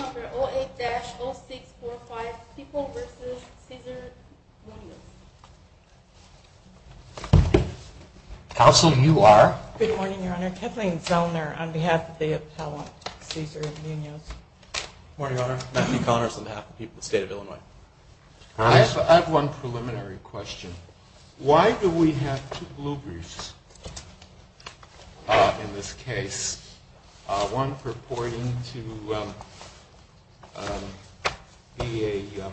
08-0645 People v. Cesar Munoz Good morning Your Honor. Kathleen Zellner on behalf of the appellant Cesar Munoz. Good morning Your Honor. Matthew Connors on behalf of the people of the state of Illinois. I have one preliminary question. Why do we have two blue briefs in this case? One purporting to be a...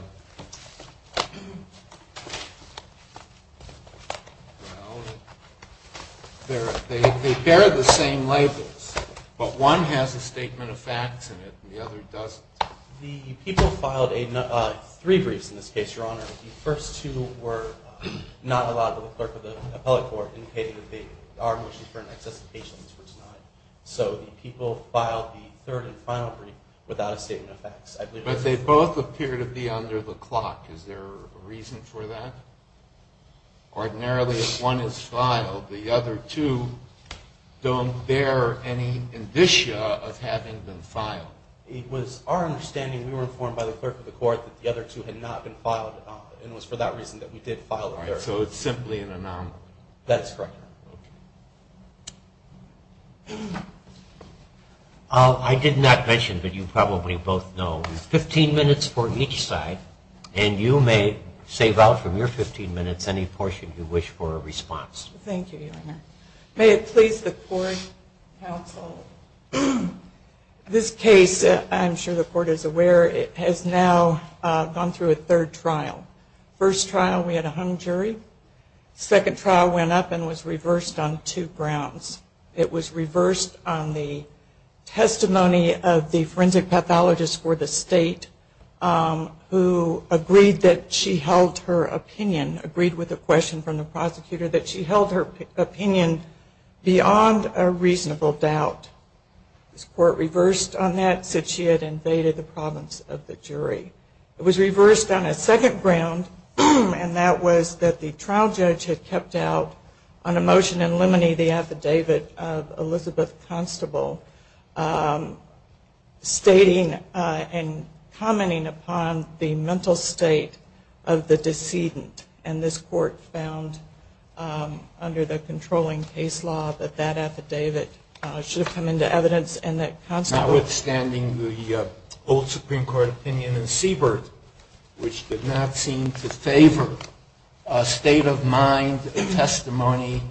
They bear the same labels, but one has a statement of facts in it and the other doesn't. The people filed three briefs in this case, Your Honor. The first two were not allowed to the clerk of the appellate court So the people filed the third and final brief without a statement of facts. But they both appear to be under the clock. Is there a reason for that? Ordinarily if one is filed, the other two don't bear any indicia of having been filed. It was our understanding, we were informed by the clerk of the court that the other two had not been filed and it was for that reason that we did file the brief. So it's simply an anomaly. That's correct. I did not mention, but you probably both know, 15 minutes for each side. And you may save out from your 15 minutes any portion you wish for a response. Thank you, Your Honor. May it please the court, counsel, this case, I'm sure the court is aware, has now gone through a third trial. First trial we had a hung jury. Second trial went up and was reversed on two grounds. It was reversed on the testimony of the forensic pathologist for the state who agreed that she held her opinion, agreed with the question from the prosecutor that she held her opinion beyond a reasonable doubt. This court reversed on that, said she had invaded the province of the jury. It was reversed on a second ground and that was that the trial judge had kept out on a motion in limine the affidavit of Elizabeth Constable stating and commenting upon the mental state of the decedent. And this court found under the controlling case law that that affidavit should have come into evidence notwithstanding the old Supreme Court opinion in Siebert which did not seem to favor a state of mind testimony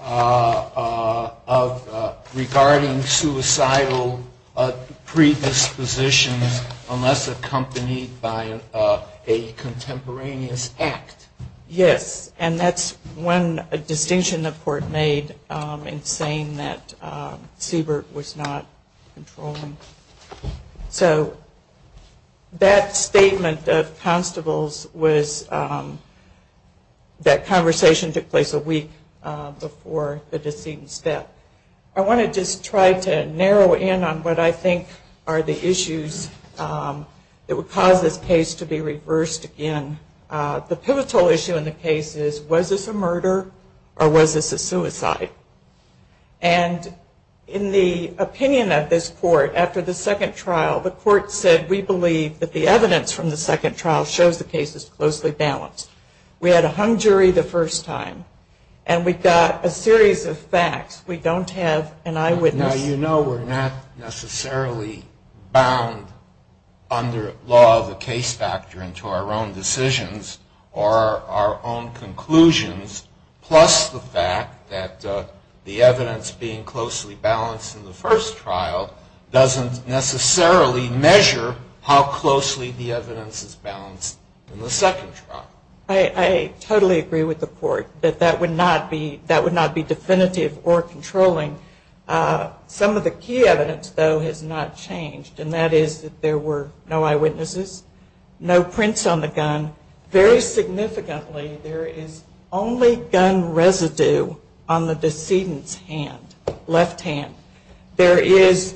of regarding suicidal predispositions unless accompanied by a contemporaneous act. Yes, and that's one distinction the court made in saying that Siebert was not controlling. So that statement of Constable's was that conversation took place a week before the decedent's death. I want to just try to narrow in on what I think are the issues that would cause this case to be reversed again. The pivotal issue in the case is was this a murder or was this a suicide? And in the opinion of this court after the second trial, the court said we believe that the evidence from the second trial shows the case is closely balanced. We had a hung jury the first time and we got a series of facts. We don't have an eyewitness. Now, you know we're not necessarily bound under law the case factor into our own decisions or our own conclusions plus the fact that the evidence being closely balanced in the first trial doesn't necessarily measure how closely the evidence is balanced in the second trial. I totally agree with the court that that would not be definitive or controlling. Some of the key evidence, though, has not changed, and that is that there were no eyewitnesses, no prints on the gun. Very significantly, there is only gun residue on the decedent's hand, left hand. There is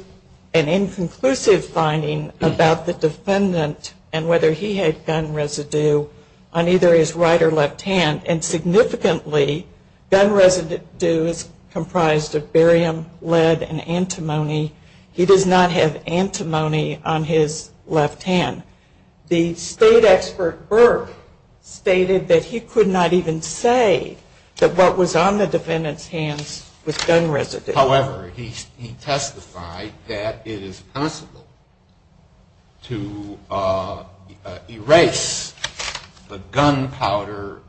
an inconclusive finding about the defendant and whether he had gun residue on either his right or left hand, and significantly, gun residue is comprised of barium, lead, and antimony. He does not have antimony on his left hand. The state expert Burke stated that he could not even say that what was on the defendant's hands was gun residue. However, he testified that it is possible to erase the gunpowder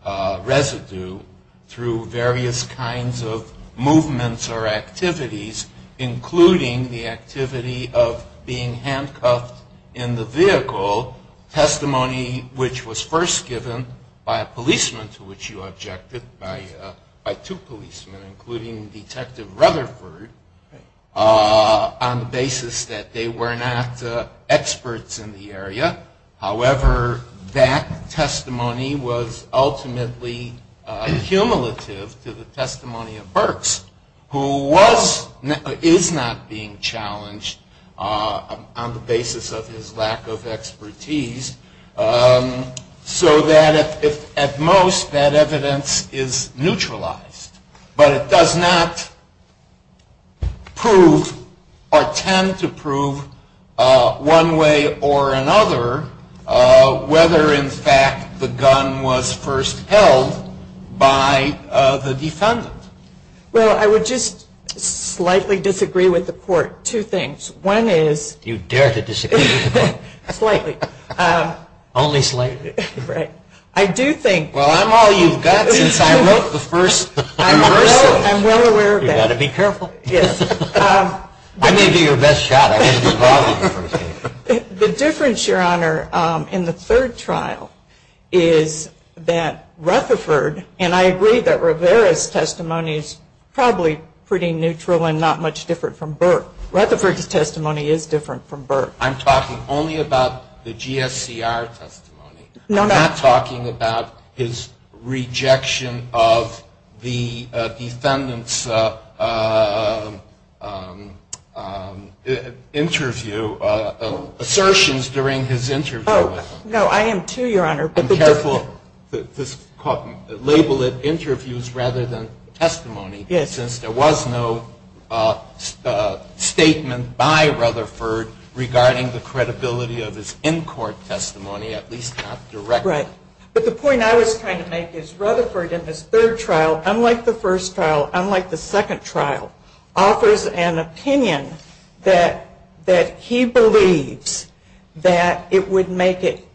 residue through various kinds of movements or activities, including the activity of being handcuffed in the vehicle, testimony which was first given by a policeman to which you objected, by two policemen, including Detective Rutherford, on the basis that they were not experts in the area. However, that testimony was ultimately cumulative to the testimony of Burks, who is not being challenged on the basis of his lack of expertise, so that, at most, that evidence is neutralized. But it does not prove or tend to prove one way or another whether, in fact, the gun was first held by the defendant. Well, I would just slightly disagree with the court two things. One is Do you dare to disagree with the court? Slightly. Only slightly? Right. I do think Well, I'm all you've got since I wrote the first conversation. I'm well aware of that. You've got to be careful. Yes. I may do your best shot. The difference, Your Honor, in the third trial is that Rutherford, and I agree that Rivera's testimony is probably pretty neutral and not much different from Burke. Rutherford's testimony is different from Burke. I'm talking only about the GSCR testimony. No, I'm not. I'm not talking about his rejection of the defendant's interview, assertions during his interview. No, I am too, Your Honor. I'm careful to label it interviews rather than testimony. Yes. And since there was no statement by Rutherford regarding the credibility of his in-court testimony, at least not directly. Right. But the point I was trying to make is Rutherford in his third trial, unlike the first trial, unlike the second trial, offers an opinion that he believes that it would make it,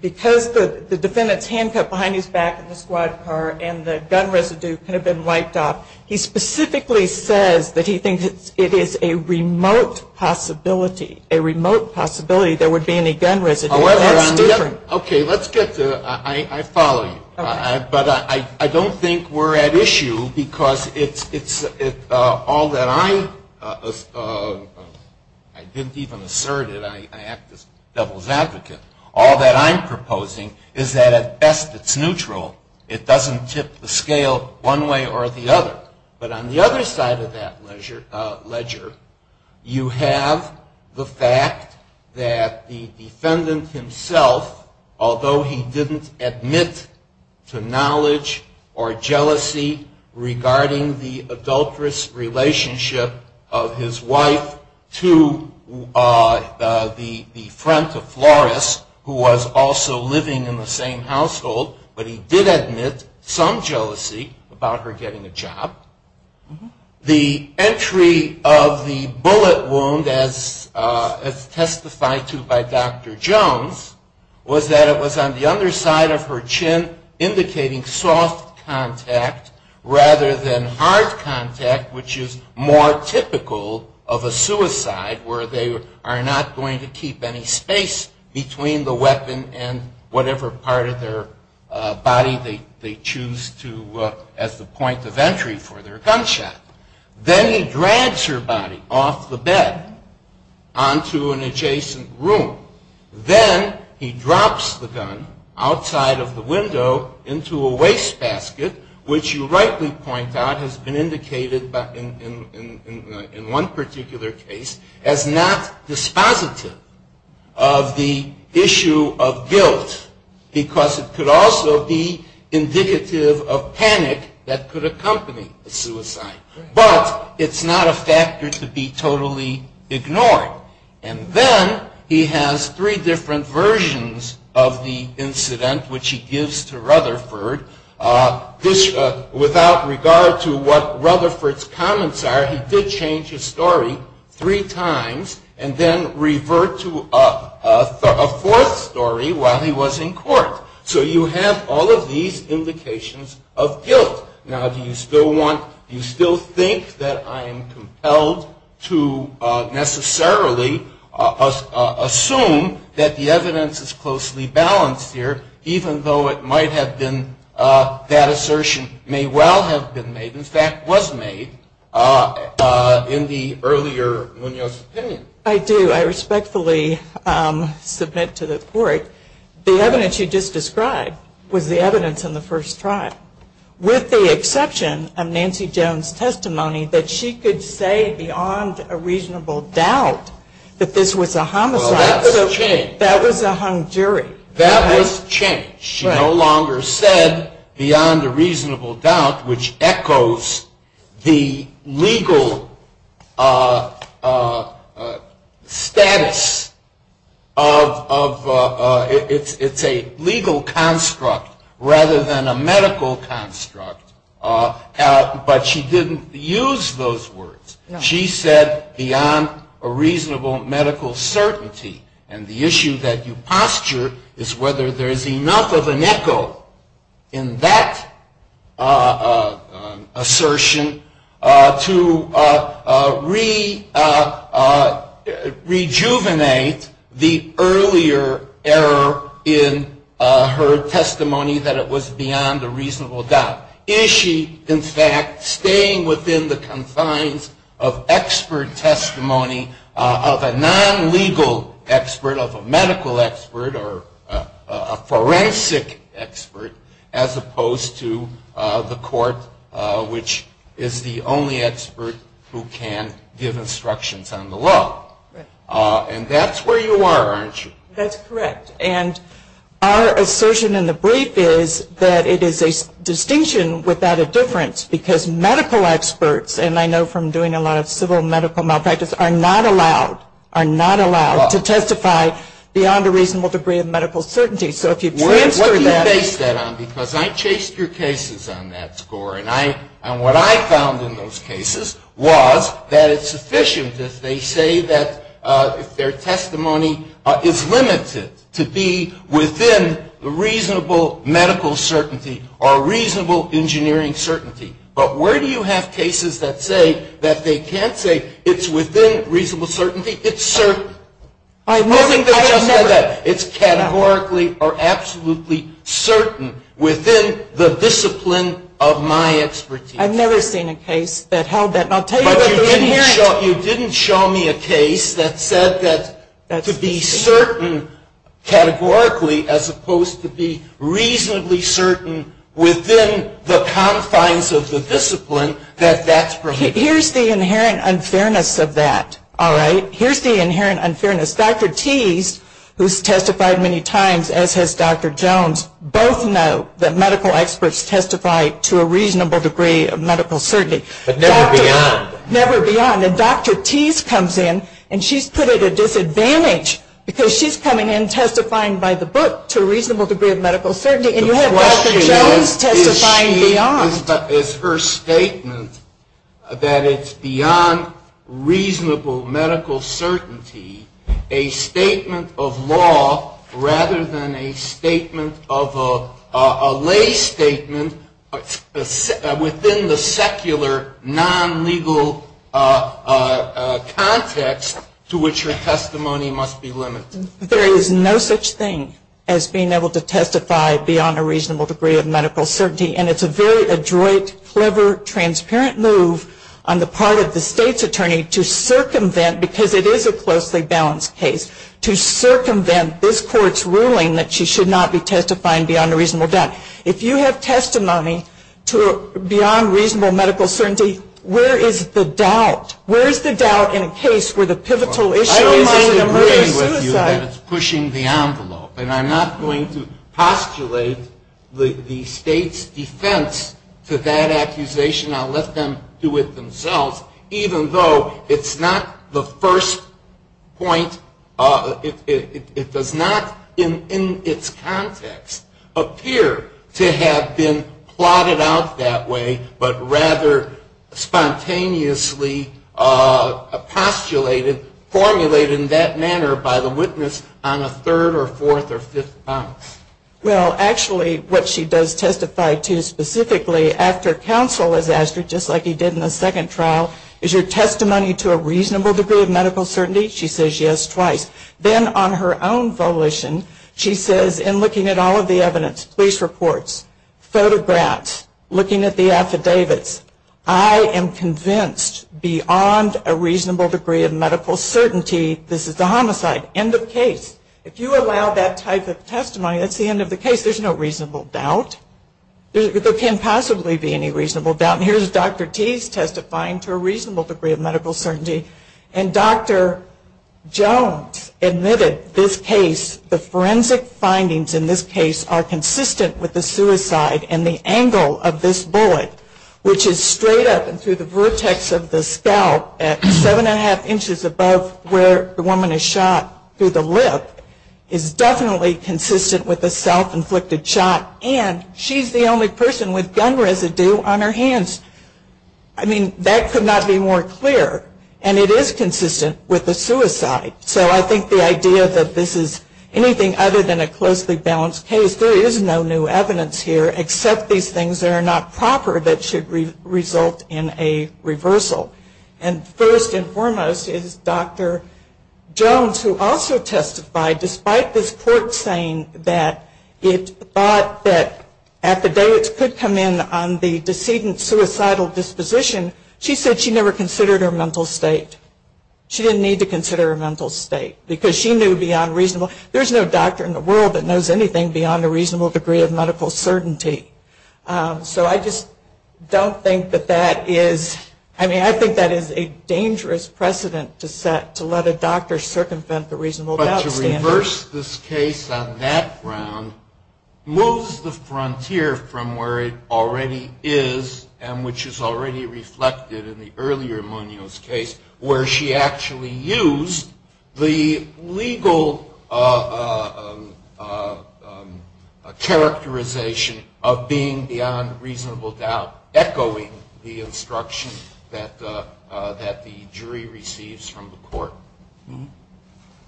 because the defendant's handcuff behind his back in the squad car and the gun residue could have been wiped off, he specifically says that he thinks it is a remote possibility, a remote possibility there would be any gun residue. That's different. Okay, let's get to, I follow you. Okay. But I don't think we're at issue because it's all that I, I didn't even assert it, I act as devil's advocate, all that I'm proposing is that at best it's neutral. It doesn't tip the scale one way or the other. But on the other side of that ledger, you have the fact that the defendant himself, although he didn't admit to knowledge or jealousy regarding the adulterous relationship of his wife to the friend of Flores, who was also living in the same household, but he did admit some jealousy about her getting a job. The entry of the bullet wound, as testified to by Dr. Jones, was that it was on the underside of her chin, indicating soft contact rather than hard contact, which is more typical of a suicide where they are not going to keep any space between the weapon and whatever part of their body they choose to, as the point of entry for their gunshot. Then he drags her body off the bed onto an adjacent room. Then he drops the gun outside of the window into a wastebasket, which you rightly point out has been indicated in one particular case as not dispositive of the issue of guilt because it could also be indicative of panic that could accompany a suicide. But it's not a factor to be totally ignored. And then he has three different versions of the incident, which he gives to Rutherford. Without regard to what Rutherford's comments are, he did change his story three times and then revert to a fourth story while he was in court. So you have all of these indications of guilt. Now, do you still want, do you still think that I am compelled to necessarily assume that the evidence is closely balanced here, even though it might have been, that assertion may well have been made, in fact was made, in the earlier Munoz's opinion? I do. I respectfully submit to the court the evidence you just described was the evidence in the first trial. With the exception of Nancy Jones' testimony that she could say beyond a reasonable doubt that this was a homicide. Well, that's changed. That was a hung jury. That was changed. She no longer said beyond a reasonable doubt, which echoes the legal status of, it's a legal construct rather than a medical construct. But she didn't use those words. She said beyond a reasonable medical certainty. And the issue that you posture is whether there is enough of an echo in that assertion to rejuvenate the earlier error in her testimony that it was beyond a reasonable doubt. Is she, in fact, staying within the confines of expert testimony of a non-legal expert, of a medical expert, or a forensic expert, as opposed to the court, which is the only expert who can give instructions on the law. And that's where you are, aren't you? That's correct. And our assertion in the brief is that it is a distinction without a difference, because medical experts, and I know from doing a lot of civil medical malpractice, are not allowed to testify beyond a reasonable degree of medical certainty. So if you transfer that. What do you base that on? Because I chased your cases on that score. And what I found in those cases was that it's sufficient if they say that their testimony is limited to be within reasonable medical certainty or reasonable engineering certainty. But where do you have cases that say that they can't say it's within reasonable certainty? It's certain. I have never. It's categorically or absolutely certain within the discipline of my expertise. I've never seen a case that held that. And I'll tell you that you didn't hear it. But you didn't show me a case that said that to be certain categorically, as opposed to be reasonably certain within the confines of the discipline, that that's permitted. Here's the inherent unfairness of that, all right? Here's the inherent unfairness. Dr. Teese, who's testified many times, as has Dr. Jones, both know that medical experts testify to a reasonable degree of medical certainty. But never beyond. Never beyond. And Dr. Teese comes in, and she's put at a disadvantage, because she's coming in testifying by the book to a reasonable degree of medical certainty. And you have Dr. Jones testifying beyond. The question is, is her statement that it's beyond reasonable medical certainty, a statement of law rather than a statement of a lay statement within the secular, non-legal context to which her testimony must be limited? There is no such thing as being able to testify beyond a reasonable degree of medical certainty. And it's a very adroit, clever, transparent move on the part of the state's attorney to circumvent, because it is a closely balanced case, to circumvent this court's ruling that she should not be testifying beyond a reasonable doubt. If you have testimony beyond reasonable medical certainty, where is the doubt? Where is the doubt in a case where the pivotal issue is an emergency suicide? I don't mind agreeing with you that it's pushing the envelope. And I'm not going to postulate the state's defense to that accusation. I'll let them do it themselves. Even though it's not the first point, it does not in its context appear to have been plotted out that way, but rather spontaneously postulated, formulated in that manner by the witness on a third or fourth or fifth bounce. Well, actually, what she does testify to specifically after counsel has asked her, just like he did in the second trial, is your testimony to a reasonable degree of medical certainty? She says yes twice. Then on her own volition, she says, in looking at all of the evidence, police reports, photographs, looking at the affidavits, I am convinced beyond a reasonable degree of medical certainty this is a homicide. End of case. If you allow that type of testimony, that's the end of the case. There's no reasonable doubt. There can't possibly be any reasonable doubt. And here's Dr. Teese testifying to a reasonable degree of medical certainty. And Dr. Jones admitted this case, the forensic findings in this case are consistent with the suicide and the angle of this bullet, which is straight up and through the vertex of the scalp at seven and a half inches above where the woman is shot through the lip, is definitely consistent with a self-inflicted shot and she's the only person with gun residue on her hands. I mean, that could not be more clear. And it is consistent with the suicide. So I think the idea that this is anything other than a closely balanced case, there is no new evidence here except these things that are not proper that should result in a reversal. And first and foremost is Dr. Jones who also testified despite this court saying that it thought that at the day it could come in on the decedent's suicidal disposition, she said she never considered her mental state. She didn't need to consider her mental state because she knew beyond reasonable, there's no doctor in the world that knows anything beyond a reasonable degree of medical certainty. So I just don't think that that is, I mean, I think that is a dangerous precedent to set, to let a doctor circumvent the reasonable doubt standard. But to reverse this case on that ground moves the frontier from where it already is and which is already reflected in the earlier Munoz case where she actually used the legal characterization of being beyond reasonable doubt, echoing the instruction that the jury receives from the court.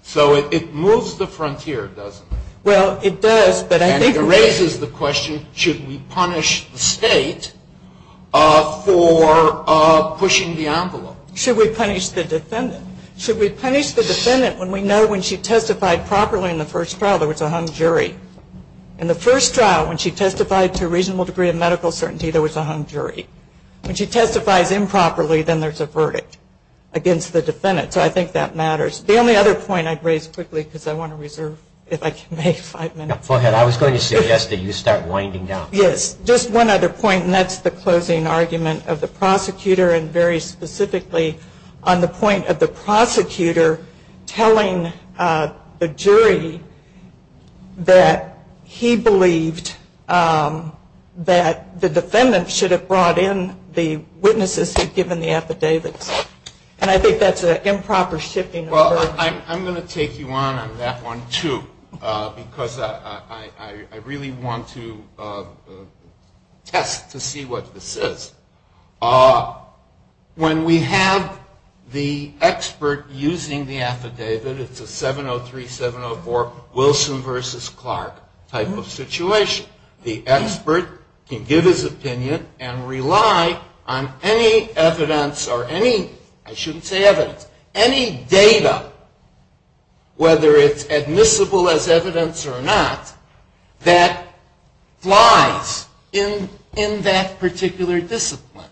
So it moves the frontier, doesn't it? Well, it does, but I think it raises the question, should we punish the state for pushing the envelope? Should we punish the defendant? Should we punish the defendant when we know when she testified properly in the first trial there was a hung jury? In the first trial, when she testified to a reasonable degree of medical certainty, there was a hung jury. When she testifies improperly, then there's a verdict against the defendant. So I think that matters. The only other point I'd raise quickly because I want to reserve if I can make five minutes. Go ahead. I was going to suggest that you start winding down. Yes. Just one other point, and that's the closing argument of the prosecutor and very specifically on the point of the prosecutor telling the jury that he believed that the defendant should have brought in the witnesses who had given the affidavits. And I think that's an improper shifting of verdicts. I'm going to take you on on that one, too, because I really want to test to see what this is. When we have the expert using the affidavit, it's a 703, 704 Wilson versus Clark type of situation. The expert can give his opinion and rely on any evidence or any, I shouldn't say evidence, any data, whether it's admissible as evidence or not, that flies in that particular discipline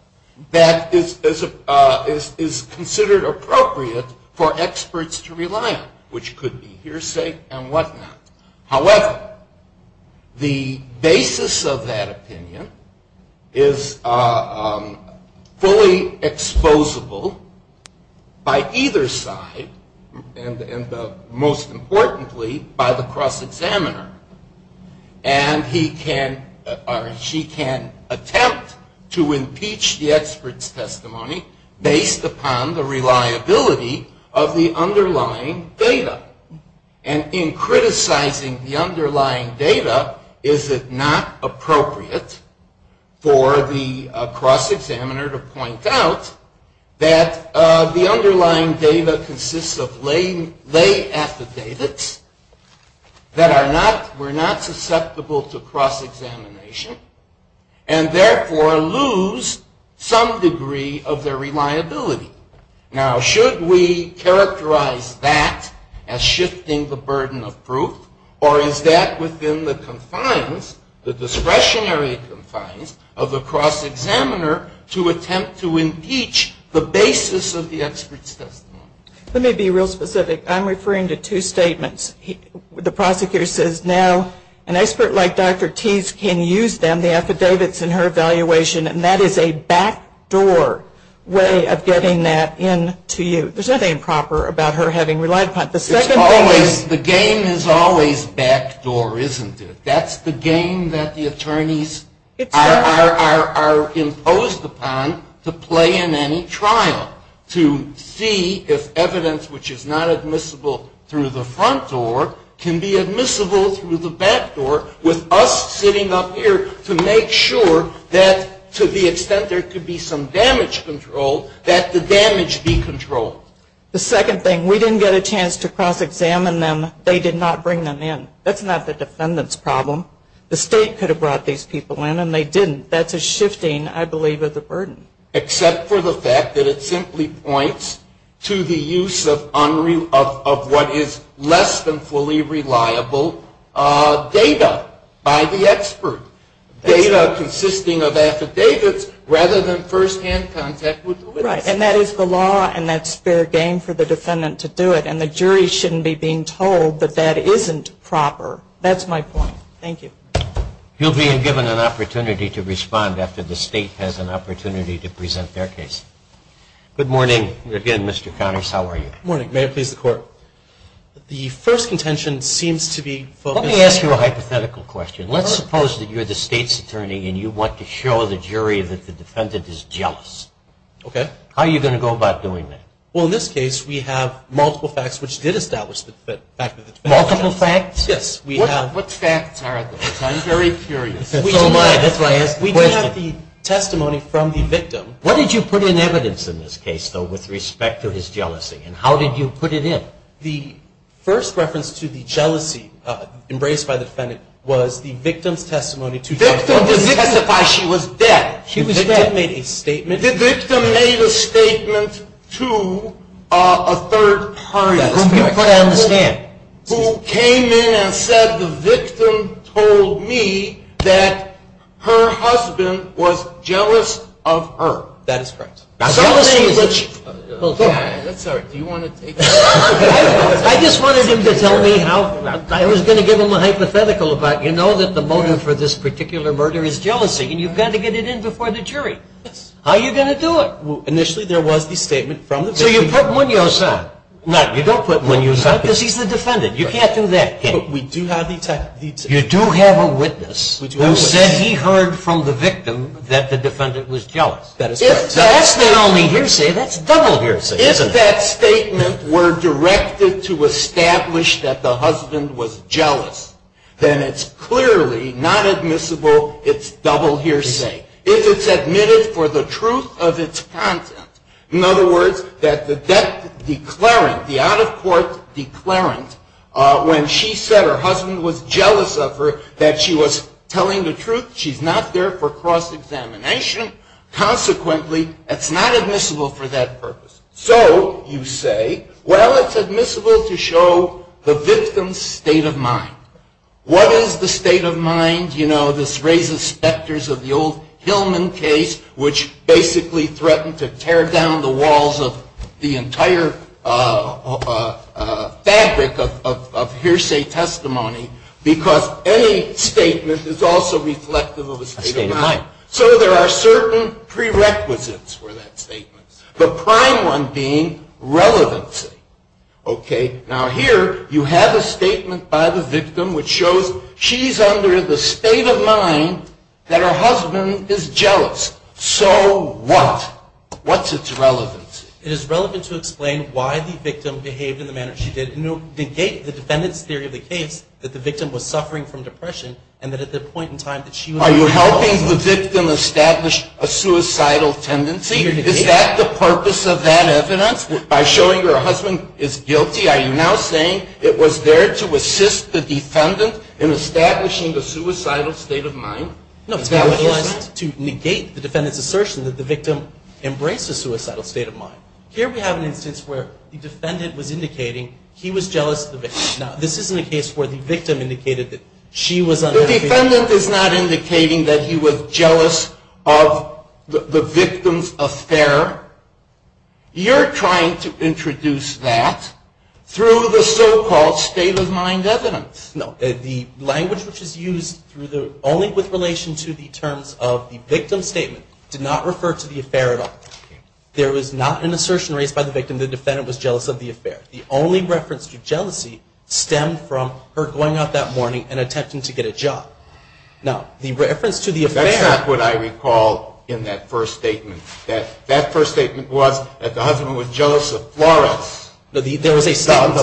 that is considered appropriate for experts to rely on, which could be hearsay and whatnot. However, the basis of that opinion is fully exposable by either side and most importantly by the cross-examiner. And he can or she can attempt to impeach the expert's testimony based upon the reliability of the underlying data. And in criticizing the underlying data, is it not appropriate for the cross-examiner to point out that the underlying data consists of lay affidavits that are not, were not susceptible to cross-examination and therefore lose some degree of their reliability. Now, should we characterize that as shifting the burden of proof or is that within the confines, the discretionary confines of the cross-examiner to attempt to impeach the basis of the expert's testimony? Let me be real specific. I'm referring to two statements. The prosecutor says now an expert like Dr. Tease can use them, the affidavits in her evaluation, and that is a backdoor way of getting that in to you. There's nothing improper about her having relied upon it. The second thing is... It's always, the game is always backdoor, isn't it? That's the game that the attorneys are imposed upon to play in any trial, to see if evidence which is not admissible through the front door can be admissible through the back door with us sitting up here to make sure that to the extent there could be some damage control, that the damage be controlled. The second thing, we didn't get a chance to cross-examine them. They did not bring them in. That's not the defendant's problem. The State could have brought these people in and they didn't. Except for the fact that it simply points to the use of what is less than fully reliable data by the expert. Data consisting of affidavits rather than first-hand contact with the witness. Right, and that is the law and that's fair game for the defendant to do it. And the jury shouldn't be being told that that isn't proper. That's my point. Thank you. You'll be given an opportunity to respond after the State has an opportunity to present their case. Good morning again, Mr. Connors. How are you? Good morning. May it please the Court. The first contention seems to be focused on… Let me ask you a hypothetical question. Let's suppose that you're the State's attorney and you want to show the jury that the defendant is jealous. Okay. How are you going to go about doing that? Well, in this case, we have multiple facts which did establish the fact that… Multiple facts? Yes, we have. What facts are those? I'm very curious. So am I. That's why I asked the question. We do have the testimony from the victim. What did you put in evidence in this case, though, with respect to his jealousy? And how did you put it in? The first reference to the jealousy embraced by the defendant was the victim's testimony to… The victim didn't testify. She was dead. She was dead. The victim made a statement… The victim made a statement to a third party… That's fair. That's what I understand. …who came in and said the victim told me that her husband was jealous of her. That is correct. Jealousy is a… I'm sorry. Do you want to take… I just wanted him to tell me how… I was going to give him a hypothetical, but you know that the motive for this particular murder is jealousy, and you've got to get it in before the jury. How are you going to do it? Initially, there was the statement from the victim. So you put Munoz out. No, you don't put Munoz out because he's the defendant. You can't do that. But we do have the… You do have a witness who said he heard from the victim that the defendant was jealous. That is correct. If that's the only hearsay, that's double hearsay, isn't it? If that statement were directed to establish that the husband was jealous, then it's clearly not admissible. It's double hearsay. If it's admitted for the truth of its content, In other words, that the debt declarant, the out-of-court declarant, when she said her husband was jealous of her, that she was telling the truth, she's not there for cross-examination. Consequently, it's not admissible for that purpose. So you say, well, it's admissible to show the victim's state of mind. What is the state of mind? You know, this raises specters of the old Hillman case, which basically threatened to tear down the walls of the entire fabric of hearsay testimony because any statement is also reflective of a state of mind. So there are certain prerequisites for that statement, the prime one being relevancy. Okay, now here you have a statement by the victim which shows she's under the state of mind that her husband is jealous. So what? What's its relevance? It is relevant to explain why the victim behaved in the manner she did. Negate the defendant's theory of the case that the victim was suffering from depression and that at that point in time that she was jealous of him. Are you helping the victim establish a suicidal tendency? Is that the purpose of that evidence? By showing her her husband is guilty, are you now saying it was there to assist the defendant in establishing a suicidal state of mind? No, to negate the defendant's assertion that the victim embraced a suicidal state of mind. Here we have an instance where the defendant was indicating he was jealous of the victim. Now, this isn't a case where the victim indicated that she was unhappy. The defendant is not indicating that he was jealous of the victim's affair. You're trying to introduce that through the so-called state of mind evidence. No, the language which is used only with relation to the terms of the victim's statement did not refer to the affair at all. There was not an assertion raised by the victim that the defendant was jealous of the affair. The only reference to jealousy stemmed from her going out that morning and attempting to get a job. Now, the reference to the affair... Her statement was that the husband was jealous of Flores. There was a statement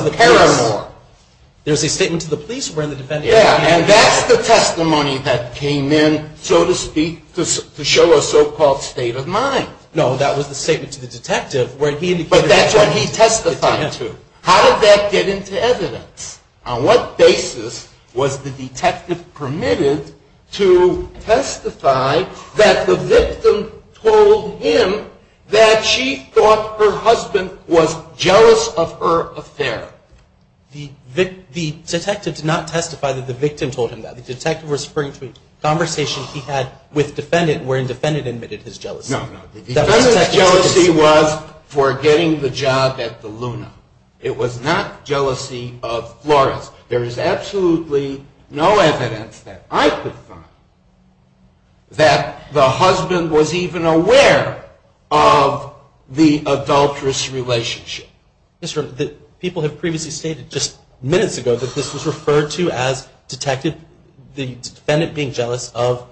to the police where the defendant... Yeah, and that's the testimony that came in, so to speak, to show a so-called state of mind. No, that was the statement to the detective where he indicated... But that's what he testified to. How did that get into evidence? On what basis was the detective permitted to testify that the victim told him that she thought her husband was jealous of her affair? The detective did not testify that the victim told him that. The detective was referring to a conversation he had with defendant wherein defendant admitted his jealousy. No, no. The defendant's jealousy was for getting the job at the Luna. It was not jealousy of Flores. There is absolutely no evidence that I could find that the husband was even aware of the adulterous relationship. People have previously stated, just minutes ago, that this was referred to as the defendant being jealous of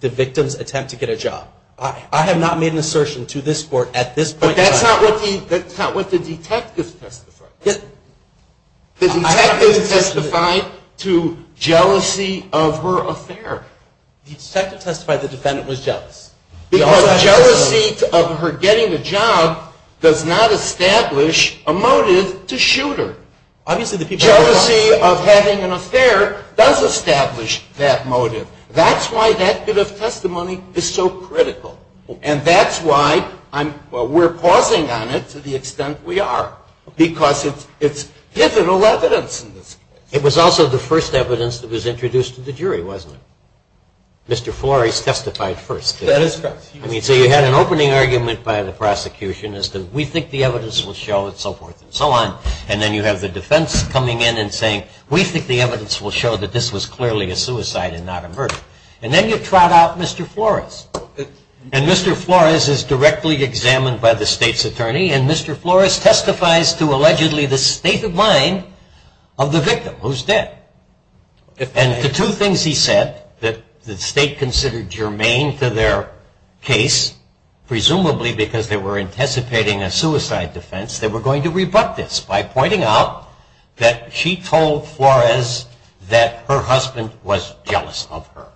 the victim's attempt to get a job. I have not made an assertion to this court at this point in time. But that's not what the detective testified. The detective testified to jealousy of her affair. The detective testified the defendant was jealous. Because jealousy of her getting the job does not establish a motive to shoot her. Obviously the people... Jealousy of having an affair does establish that motive. That's why that bit of testimony is so critical. And that's why we're pausing on it to the extent we are. Because it's pivotal evidence in this case. It was also the first evidence that was introduced to the jury, wasn't it? Mr. Flores testified first. That is correct. So you had an opening argument by the prosecution as to, we think the evidence will show, and so forth and so on. And then you have the defense coming in and saying, we think the evidence will show that this was clearly a suicide and not a murder. And then you trot out Mr. Flores. And Mr. Flores is directly examined by the state's attorney. And Mr. Flores testifies to, allegedly, the state of mind of the victim, who's dead. And the two things he said that the state considered germane to their case, presumably because they were anticipating a suicide defense, they were going to rebut this by pointing out that she told Flores that her husband was jealous of her.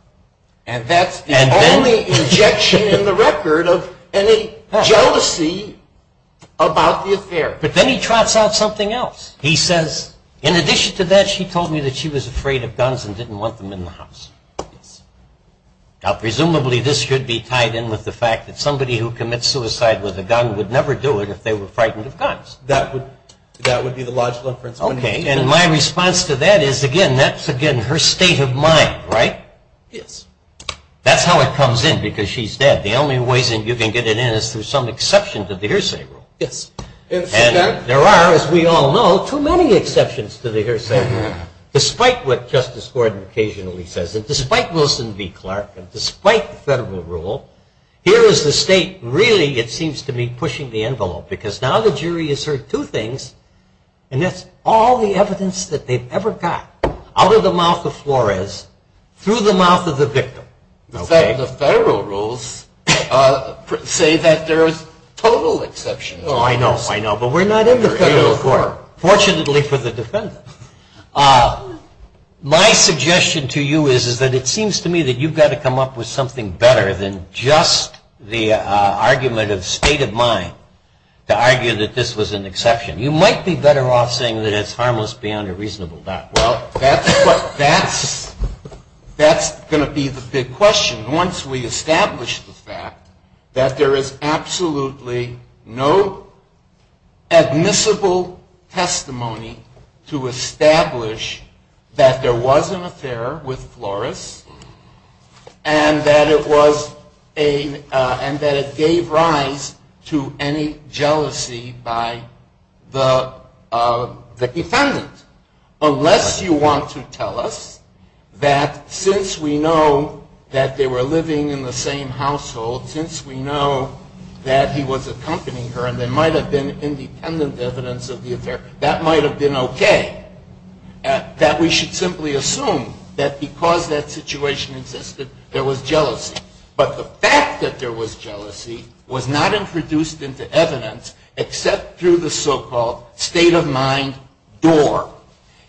And that's the only injection in the record of any jealousy about the affair. But then he trots out something else. He says, in addition to that, she told me that she was afraid of guns and didn't want them in the house. Yes. Now, presumably this should be tied in with the fact that somebody who commits suicide with a gun would never do it if they were frightened of guns. That would be the logical inference. Okay. And my response to that is, again, that's, again, her state of mind. Right? Yes. That's how it comes in, because she's dead. The only way you can get it in is through some exception to the hearsay rule. Yes. And there are, as we all know, too many exceptions to the hearsay rule. Despite what Justice Gordon occasionally says, and despite Wilson v. Clark, and despite federal rule, here is the state really, it seems to me, pushing the envelope. Because now the jury has heard two things, and that's all the evidence that they've ever got, out of the mouth of Flores, through the mouth of the victim. The federal rules say that there is total exception. Oh, I know, I know. But we're not in the federal court. Fortunately for the defendant. My suggestion to you is that it seems to me that you've got to come up with something better than just the argument of state of mind to argue that this was an exception. You might be better off saying that it's harmless beyond a reasonable doubt. Well, that's going to be the big question. Once we establish the fact that there is absolutely no admissible testimony to establish that there was an affair with Flores and that it gave rise to any jealousy by the defendant. Unless you want to tell us that since we know that they were living in the same household, since we know that he was accompanying her and there might have been independent evidence of the affair, that might have been okay. That we should simply assume that because that situation existed, there was jealousy. But the fact that there was jealousy was not introduced into evidence, except through the so-called state-of-mind door.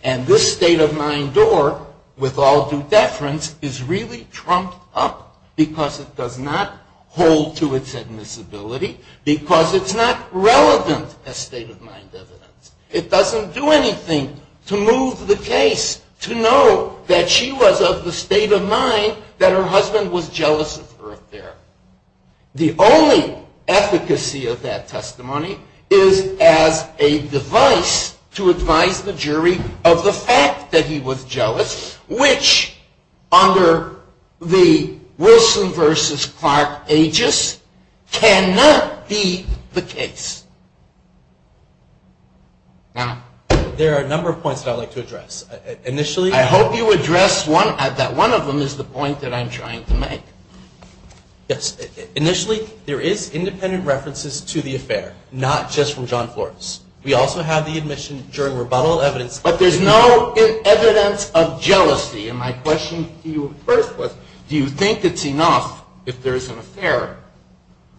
And this state-of-mind door, with all due deference, is really trumped up because it does not hold to its admissibility, because it's not relevant as state-of-mind evidence. It doesn't do anything to move the case to know that she was of the state of mind that her husband was jealous of her affair. The only efficacy of that testimony is as a device to advise the jury of the fact that he was jealous, which under the Wilson v. Clark aegis cannot be the case. There are a number of points that I would like to address. I hope you address one, that one of them is the point that I'm trying to make. Initially, there is independent references to the affair, not just from John Flores. We also have the admission during rebuttal evidence. But there's no evidence of jealousy. And my question to you first was, do you think it's enough if there's an affair,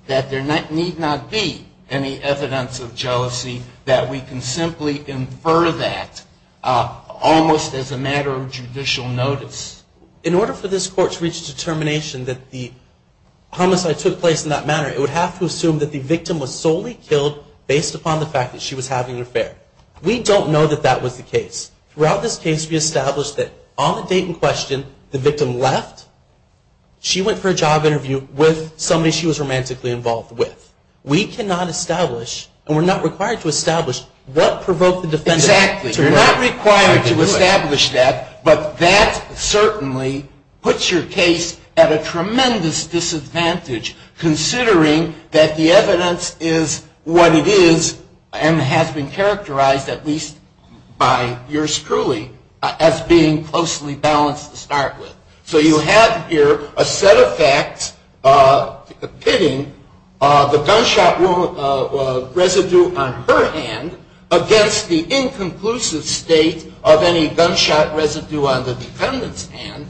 that there need not be any evidence of jealousy, that we can simply infer that almost as a matter of judicial notice? In order for this court to reach a determination that the homicide took place in that manner, it would have to assume that the victim was solely killed based upon the fact that she was having an affair. We don't know that that was the case. Throughout this case, we established that on the date in question, the victim left. She went for a job interview with somebody she was romantically involved with. We cannot establish, and we're not required to establish, what provoked the defendant to do it. Exactly. You're not required to establish that, but that certainly puts your case at a tremendous disadvantage, considering that the evidence is what it is and has been characterized, at least by yours truly, as being closely balanced to start with. So you have here a set of facts pitting the gunshot residue on her hand against the inconclusive state of any gunshot residue on the defendant's hand,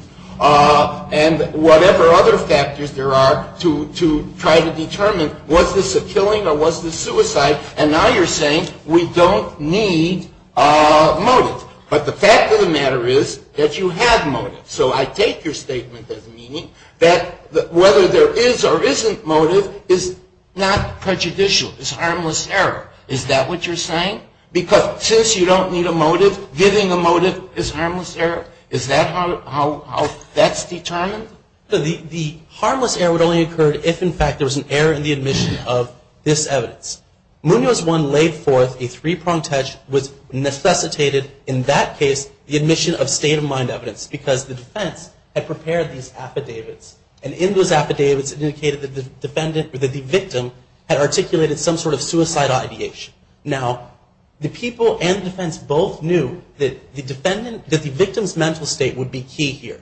and whatever other factors there are to try to determine, was this a killing or was this suicide? And now you're saying we don't need motive. But the fact of the matter is that you have motive. So I take your statement as meaning that whether there is or isn't motive is not prejudicial. It's harmless error. Is that what you're saying? Because since you don't need a motive, giving a motive is harmless error? Is that how that's determined? The harmless error would only occur if, in fact, there was an error in the admission of this evidence. Munoz 1 laid forth a three-pronged test which necessitated, in that case, the admission of state-of-mind evidence because the defense had prepared these affidavits. And in those affidavits, it indicated that the victim had articulated some sort of suicide ideation. Now, the people and the defense both knew that the victim's mental state would be key here.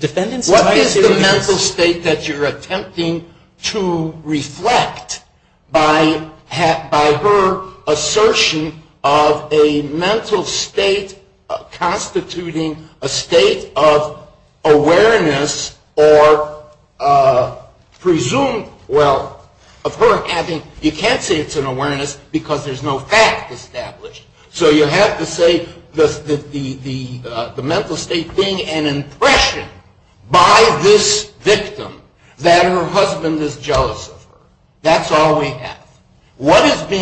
What is the mental state that you're attempting to reflect by her assertion of a mental state constituting a state of awareness or presumed, well, of her having you can't say it's an awareness because there's no fact established. So you have to say the mental state being an impression by this victim that her husband is jealous of her. That's all we have. What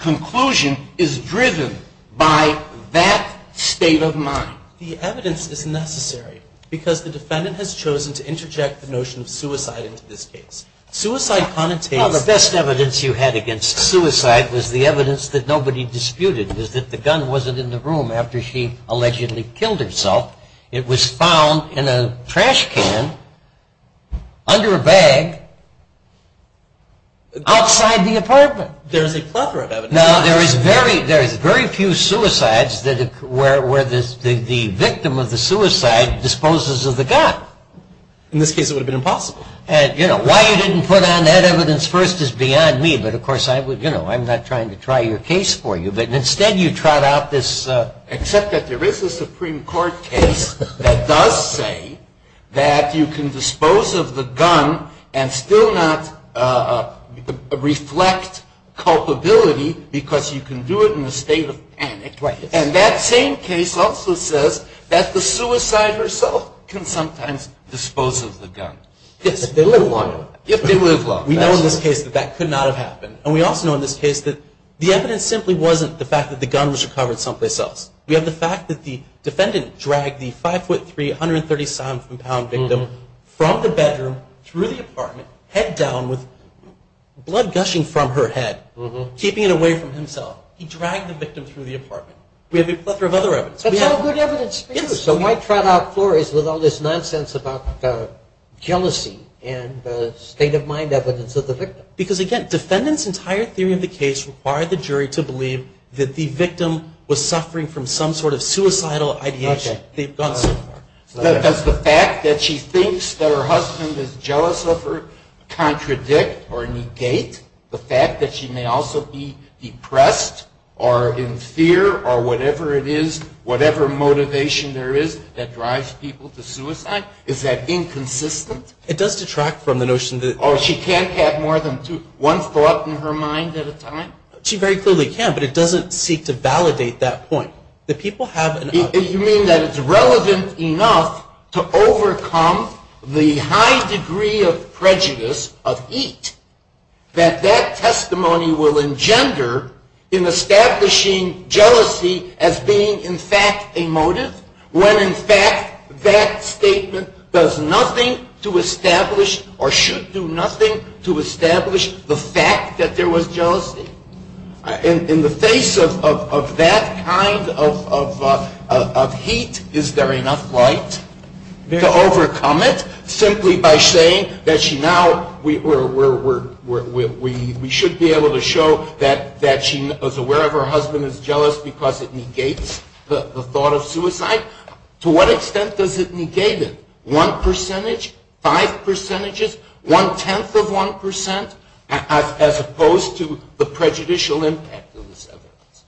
conclusion is driven by that state of mind? The evidence is necessary because the defendant has chosen to interject the notion of suicide into this case. Suicide connotates- Well, the best evidence you had against suicide was the evidence that nobody disputed, was that the gun wasn't in the room after she allegedly killed herself. It was found in a trash can under a bag outside the apartment. There's a plethora of evidence. Now, there is very few suicides where the victim of the suicide disposes of the gun. In this case, it would have been impossible. And, you know, why you didn't put on that evidence first is beyond me. But, of course, I'm not trying to try your case for you. Instead, you trot out this- Except that there is a Supreme Court case that does say that you can dispose of the gun and still not reflect culpability because you can do it in a state of panic. And that same case also says that the suicider herself can sometimes dispose of the gun. If they live long enough. We know in this case that that could not have happened. And we also know in this case that the evidence simply wasn't the fact that the gun was recovered someplace else. We have the fact that the defendant dragged the 5'3", 137-pound victim from the bedroom through the apartment, head down with blood gushing from her head, keeping it away from himself. He dragged the victim through the apartment. We have a plethora of other evidence. That's all good evidence. So my trot-out floor is with all this nonsense about jealousy and the state-of-mind evidence of the victim. Because, again, defendants' entire theory of the case required the jury to believe that the victim was suffering from some sort of suicidal ideation. Does the fact that she thinks that her husband is jealous of her contradict or negate the fact that she may also be depressed or in fear or whatever it is, whatever motivation there is that drives people to suicide? Is that inconsistent? It does detract from the notion that- Oh, she can't have more than one thought in her mind at a time? She very clearly can, but it doesn't seek to validate that point. The people have- You mean that it's relevant enough to overcome the high degree of prejudice of eat that that testimony will engender in establishing jealousy as being in fact a motive when in fact that statement does nothing to establish or should do nothing to establish the fact that there was jealousy? In the face of that kind of heat, is there enough light to overcome it simply by saying that she now- We should be able to show that she was aware of her husband is jealous because it negates the thought of suicide. To what extent does it negate it? One percentage, five percentages, one-tenth of one percent, as opposed to the prejudicial impact of this evidence?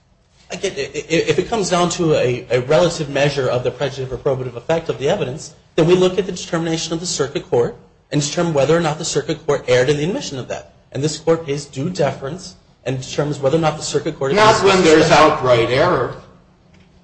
If it comes down to a relative measure of the prejudice or probative effect of the evidence, then we look at the determination of the circuit court and determine whether or not the circuit court erred in the admission of that. And this court pays due deference and determines whether or not the circuit court- It's not when there's outright error.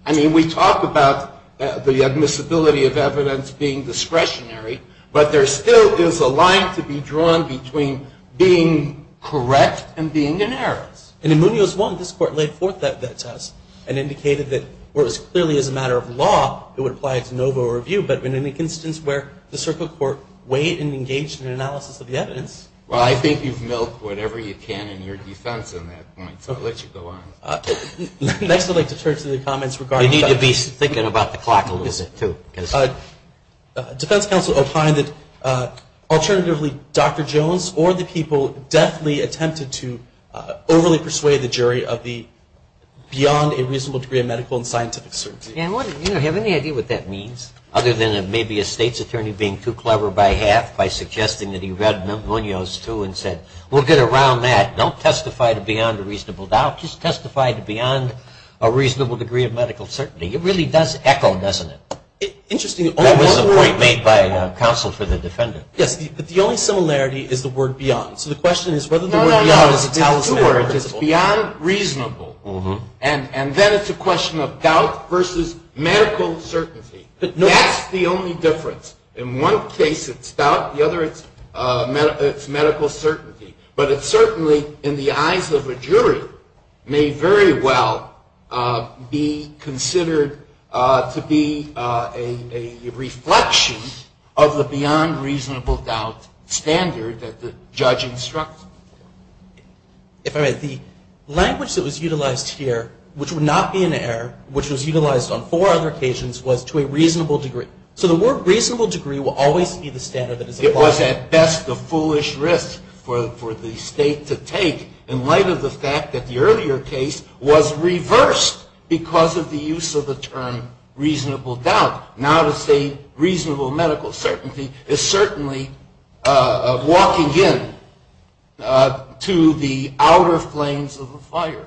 I mean, we talk about the admissibility of evidence being discretionary, but there still is a line to be drawn between being correct and being in errors. And in Munoz 1, this court laid forth that test and indicated that where it was clearly as a matter of law, it would apply to NOVA review, but in an instance where the circuit court weighed and engaged in an analysis of the evidence- Well, I think you've milked whatever you can in your defense on that point, so I'll let you go on. Next, I'd like to turn to the comments regarding- You need to be thinking about the clock a little bit, too. Defense counsel opined that, alternatively, Dr. Jones or the people deathly attempted to overly persuade the jury of the beyond a reasonable degree of medical and scientific certainty. You have any idea what that means? Other than maybe a state's attorney being too clever by half by suggesting that he read Munoz 2 and said, We'll get around that. Don't testify to beyond a reasonable doubt. Just testify to beyond a reasonable degree of medical certainty. It really does echo, doesn't it? Interesting. That was a point made by counsel for the defendant. Yes, but the only similarity is the word beyond. So the question is whether the word beyond is a talisman or a principle. No, no, there's two words. It's beyond reasonable. And then it's a question of doubt versus medical certainty. That's the only difference. In one case, it's doubt. In the other, it's medical certainty. But it certainly, in the eyes of a jury, may very well be considered to be a reflection of the beyond reasonable doubt standard that the judge instructed. If I may, the language that was utilized here, which would not be in error, which was utilized on four other occasions, was to a reasonable degree. So the word reasonable degree will always be the standard that is applied. It was, at best, a foolish risk for the state to take, in light of the fact that the earlier case was reversed because of the use of the term reasonable doubt. Now to say reasonable medical certainty is certainly walking in to the outer flames of the fire.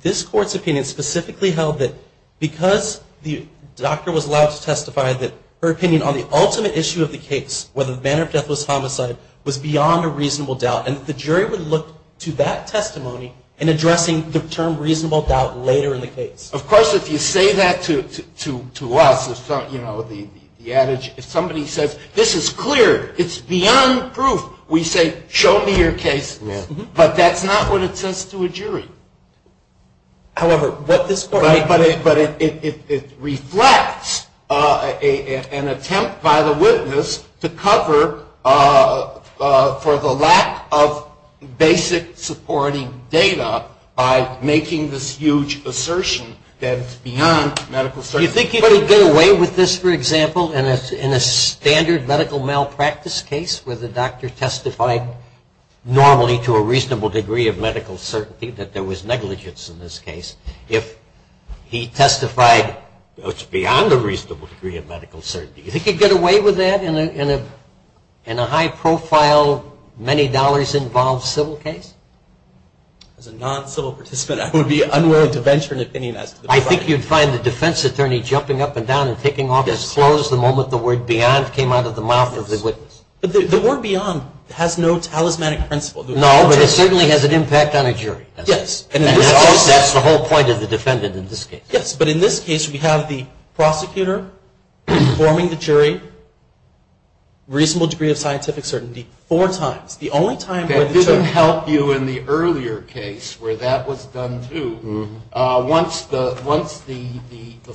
This Court's opinion specifically held that because the doctor was allowed to testify, that her opinion on the ultimate issue of the case, whether the manner of death was homicide, was beyond a reasonable doubt, and that the jury would look to that testimony in addressing the term reasonable doubt later in the case. Of course, if you say that to us, if somebody says, this is clear, it's beyond proof, we say, show me your case. But that's not what it says to a jury. However, what this Court made clear. But it reflects an attempt by the witness to cover for the lack of basic supporting data by making this huge assertion that it's beyond medical certainty. Do you think you could get away with this, for example, in a standard medical malpractice case where the doctor testified normally to a reasonable degree of medical certainty, that there was negligence in this case, if he testified beyond a reasonable degree of medical certainty? Do you think you could get away with that in a high-profile, many dollars involved civil case? As a non-civil participant, I would be unwilling to venture an opinion. I think you'd find the defense attorney jumping up and down and taking off his clothes the moment the word beyond came out of the mouth of the witness. But the word beyond has no talismanic principle. No, but it certainly has an impact on a jury. Yes. And that's the whole point of the defendant in this case. Yes. But in this case, we have the prosecutor informing the jury, reasonable degree of scientific certainty, four times. The only time where the jury. That didn't help you in the earlier case where that was done, too. Once the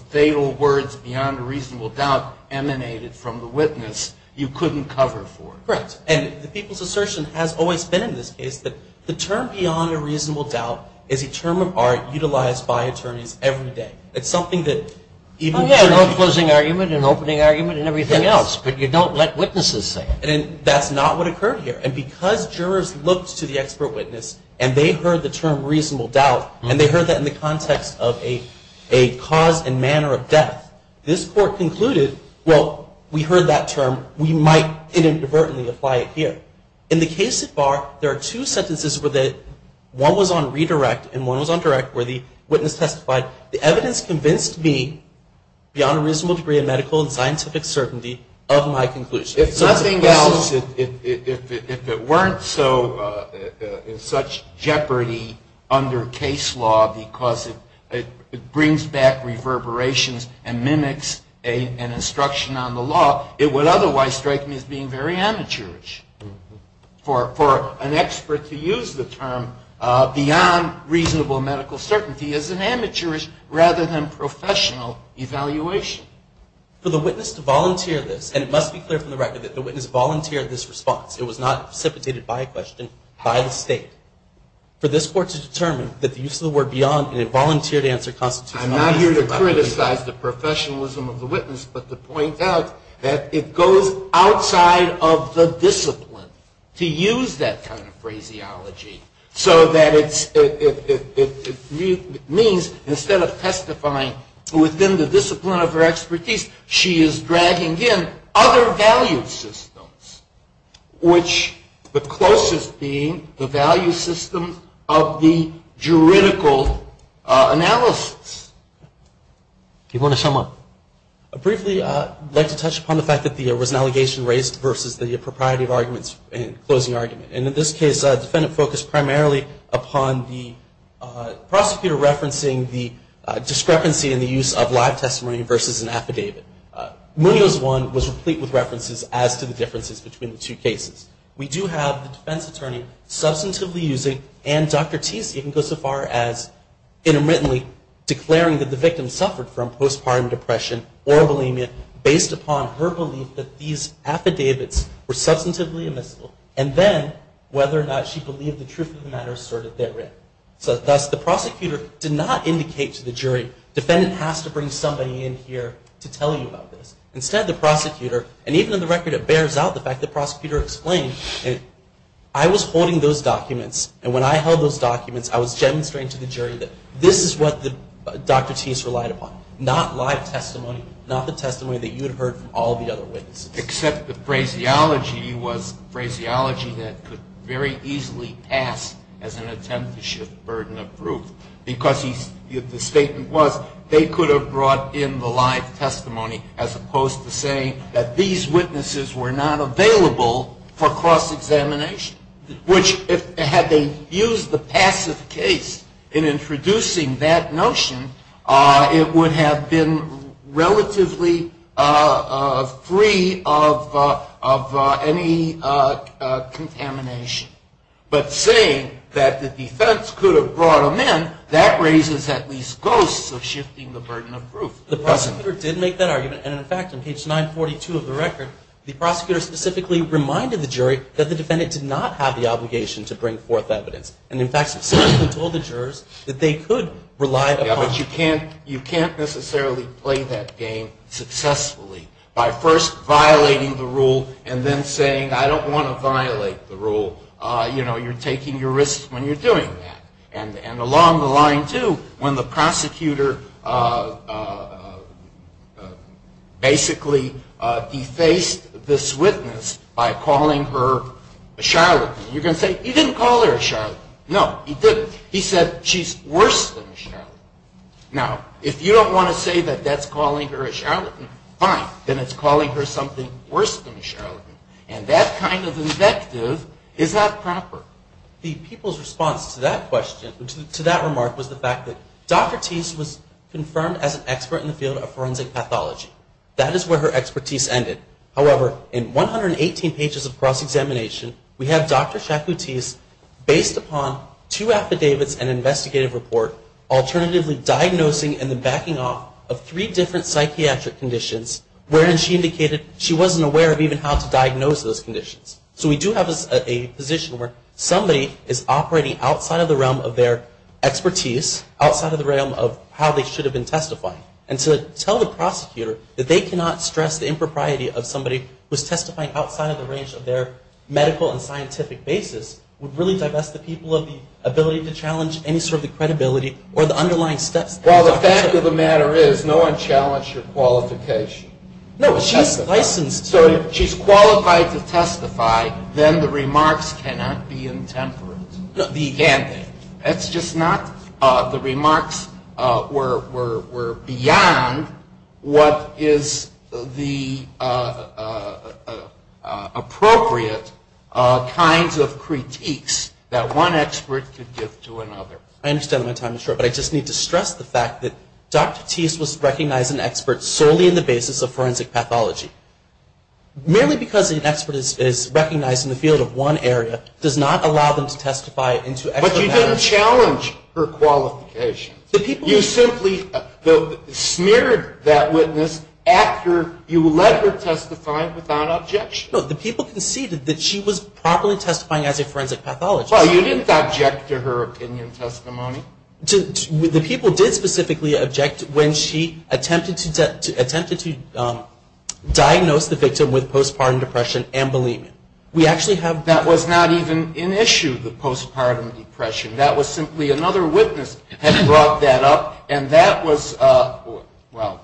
fatal words beyond a reasonable doubt emanated from the witness, you couldn't cover for it. Correct. And the people's assertion has always been in this case that the term beyond a reasonable doubt is a term of art utilized by attorneys every day. It's something that even. Oh, yeah, no closing argument and opening argument and everything else, but you don't let witnesses say it. And that's not what occurred here. And because jurors looked to the expert witness, and they heard the term reasonable doubt, and they heard that in the context of a cause and manner of death, this court concluded, well, we heard that term. We might inadvertently apply it here. In the case so far, there are two sentences where one was on redirect and one was on direct where the witness testified, the evidence convinced me beyond a reasonable degree of medical and scientific certainty of my conclusion. If nothing else, if it weren't so, in such jeopardy under case law because it brings back reverberations and mimics an instruction on the law, it would otherwise strike me as being very amateurish. For an expert to use the term beyond reasonable medical certainty is an amateurish rather than professional evaluation. For the witness to volunteer this, and it must be clear from the record that the witness volunteered this response. It was not precipitated by a question by the state. For this court to determine that the use of the word beyond an involuntary I'm not here to criticize the professionalism of the witness, but to point out that it goes outside of the discipline to use that kind of phraseology so that it means instead of testifying within the discipline of her expertise, she is dragging in other value systems, which the closest being the value system of the juridical analysis. Do you want to sum up? Briefly, I'd like to touch upon the fact that there was an allegation raised versus the propriety of arguments and closing argument. And in this case, a defendant focused primarily upon the prosecutor referencing the discrepancy in the use of live testimony versus an affidavit. Munoz 1 was replete with references as to the differences between the two cases. We do have the defense attorney substantively using, and Dr. Teese even goes so far as intermittently declaring that the victim suffered from postpartum depression or bulimia based upon her belief that these affidavits were substantively admissible, and then whether or not she believed the truth of the matter asserted therein. So thus, the prosecutor did not indicate to the jury, defendant has to bring somebody in here to tell you about this. Instead, the prosecutor, and even on the record, it bears out the fact that the prosecutor explained, I was holding those documents, and when I held those documents, I was demonstrating to the jury that this is what Dr. Teese relied upon, not live testimony, not the testimony that you had heard from all the other witnesses. Except the phraseology was phraseology that could very easily pass as an attempt to shift burden of proof. Because the statement was, they could have brought in the live testimony as opposed to saying that these witnesses were not available for cross examination. Which, had they used the passive case in introducing that notion, it would have been relatively free of any contamination. But saying that the defense could have brought them in, that raises at least ghosts of shifting the burden of proof. The prosecutor did make that argument. And in fact, on page 942 of the record, the prosecutor specifically reminded the jury that the defendant did not have the obligation to bring forth evidence. And in fact, specifically told the jurors that they could rely upon. Yeah, but you can't necessarily play that game successfully by first violating the rule and then saying, I don't want to violate the rule. You know, you're taking your risks when you're doing that. And along the line, too, when the prosecutor basically defaced this witness by calling her a charlatan, you're going to say, he didn't call her a charlatan. No, he didn't. He said, she's worse than a charlatan. Now, if you don't want to say that that's calling her a charlatan, fine. Then it's calling her something worse than a charlatan. And that kind of invective is not proper. The people's response to that question, to that remark, was the fact that Dr. Thies was confirmed as an expert in the field of forensic pathology. That is where her expertise ended. However, in 118 pages of cross-examination, we have Dr. Chakoutis based upon two affidavits and investigative report, alternatively diagnosing and then backing off of three different psychiatric conditions, wherein she indicated she wasn't aware of even how to diagnose those conditions. So we do have a position where somebody is operating outside of the realm of their expertise, outside of the realm of how they should have been testifying. And to tell the prosecutor that they cannot stress the impropriety of somebody who's testifying outside of the range of their medical and scientific basis would really divest the people of the ability to challenge any sort of the credibility or the underlying steps. Well, the fact of the matter is no one challenged your qualification. No, she's licensed. So if she's qualified to testify, then the remarks cannot be intemperate. They can't. That's just not the remarks were beyond what is the appropriate kinds of critiques that one expert could give to another. I understand my time is short, but I just need to stress the fact that Dr. Teese was recognized as an expert solely in the basis of forensic pathology. Merely because an expert is recognized in the field of one area does not allow them to testify into expert matters. But you didn't challenge her qualification. You simply smeared that witness after you let her testify without objection. No, the people conceded that she was properly testifying as a forensic pathologist. Well, you didn't object to her opinion testimony. The people did specifically object when she attempted to diagnose the victim with postpartum depression and believe it. That was not even an issue, the postpartum depression. That was simply another witness had brought that up, and that was, well,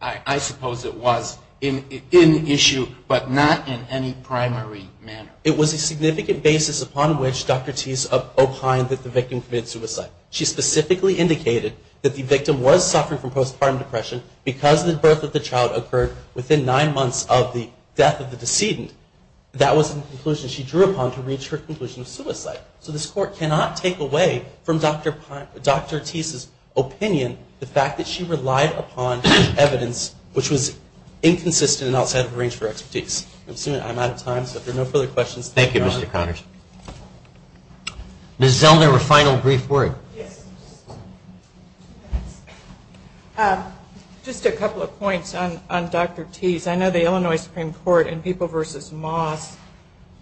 I suppose it was an issue, but not in any primary manner. It was a significant basis upon which Dr. Teese opined that the victim committed suicide. She specifically indicated that the victim was suffering from postpartum depression because the birth of the child occurred within nine months of the death of the decedent. That was the conclusion she drew upon to reach her conclusion of suicide. So this court cannot take away from Dr. Teese's opinion the fact that she relied upon evidence which was inconsistent and outside of her range of expertise. I'm out of time, so if there are no further questions. Thank you, Mr. Connors. Ms. Zellner, a final brief word. Just a couple of points on Dr. Teese. I know the Illinois Supreme Court in People v. Moss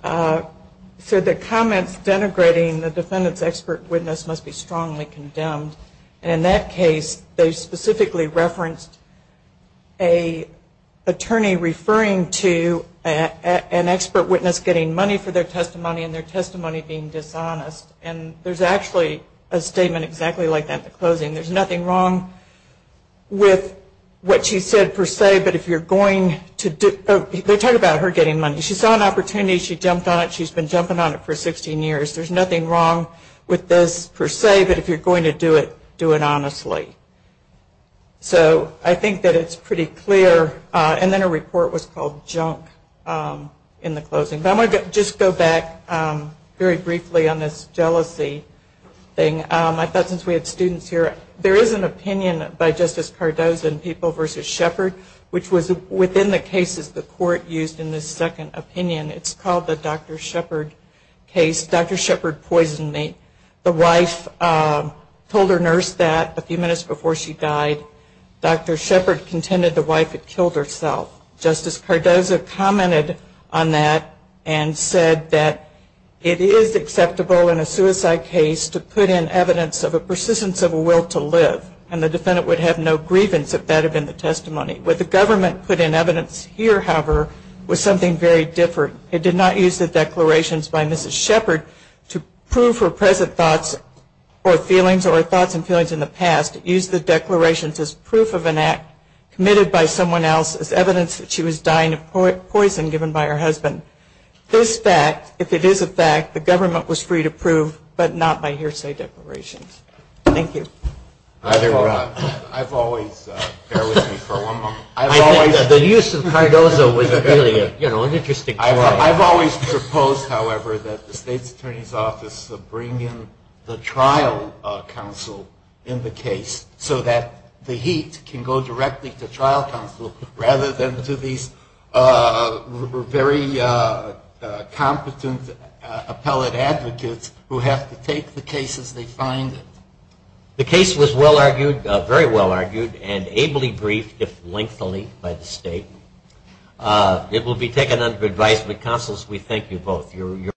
said that comments denigrating the defendant's expert witness must be strongly condemned. And in that case, they specifically referenced an attorney referring to an expert witness getting money for their testimony and their testimony being dishonest. And there's actually a statement exactly like that at the closing. There's nothing wrong with what she said per se, but if you're going to do it. They're talking about her getting money. She saw an opportunity, she jumped on it, she's been jumping on it for 16 years. There's nothing wrong with this per se, but if you're going to do it, do it honestly. So I think that it's pretty clear. And then a report was called junk in the closing. But I want to just go back very briefly on this jealousy thing. I thought since we had students here, there is an opinion by Justice Cardozo in People v. Shepard which was within the cases the court used in the second opinion. It's called the Dr. Shepard case. Dr. Shepard poisoned me. The wife told her nurse that a few minutes before she died. Dr. Shepard contended the wife had killed herself. Justice Cardozo commented on that and said that it is acceptable in a suicide case to put in evidence of a persistence of a will to live. And the defendant would have no grievance if that had been the testimony. What the government put in evidence here, however, was something very different. It did not use the declarations by Mrs. Shepard to prove her present thoughts or feelings or thoughts and feelings in the past. It used the declarations as proof of an act committed by someone else as evidence that she was dying of poison given by her husband. This fact, if it is a fact, the government was free to prove, but not by hearsay declarations. Thank you. I've always, bear with me for one moment. The use of Cardozo was really an interesting point. I've always proposed, however, that the State's Attorney's Office bring in the trial counsel in the case so that the heat can go directly to trial counsel rather than to these very competent appellate advocates who have to take the case as they find it. The case was well argued, very well argued, and ably briefed, if lengthily, by the State. It will be taken under advisement. Counsels, we thank you both.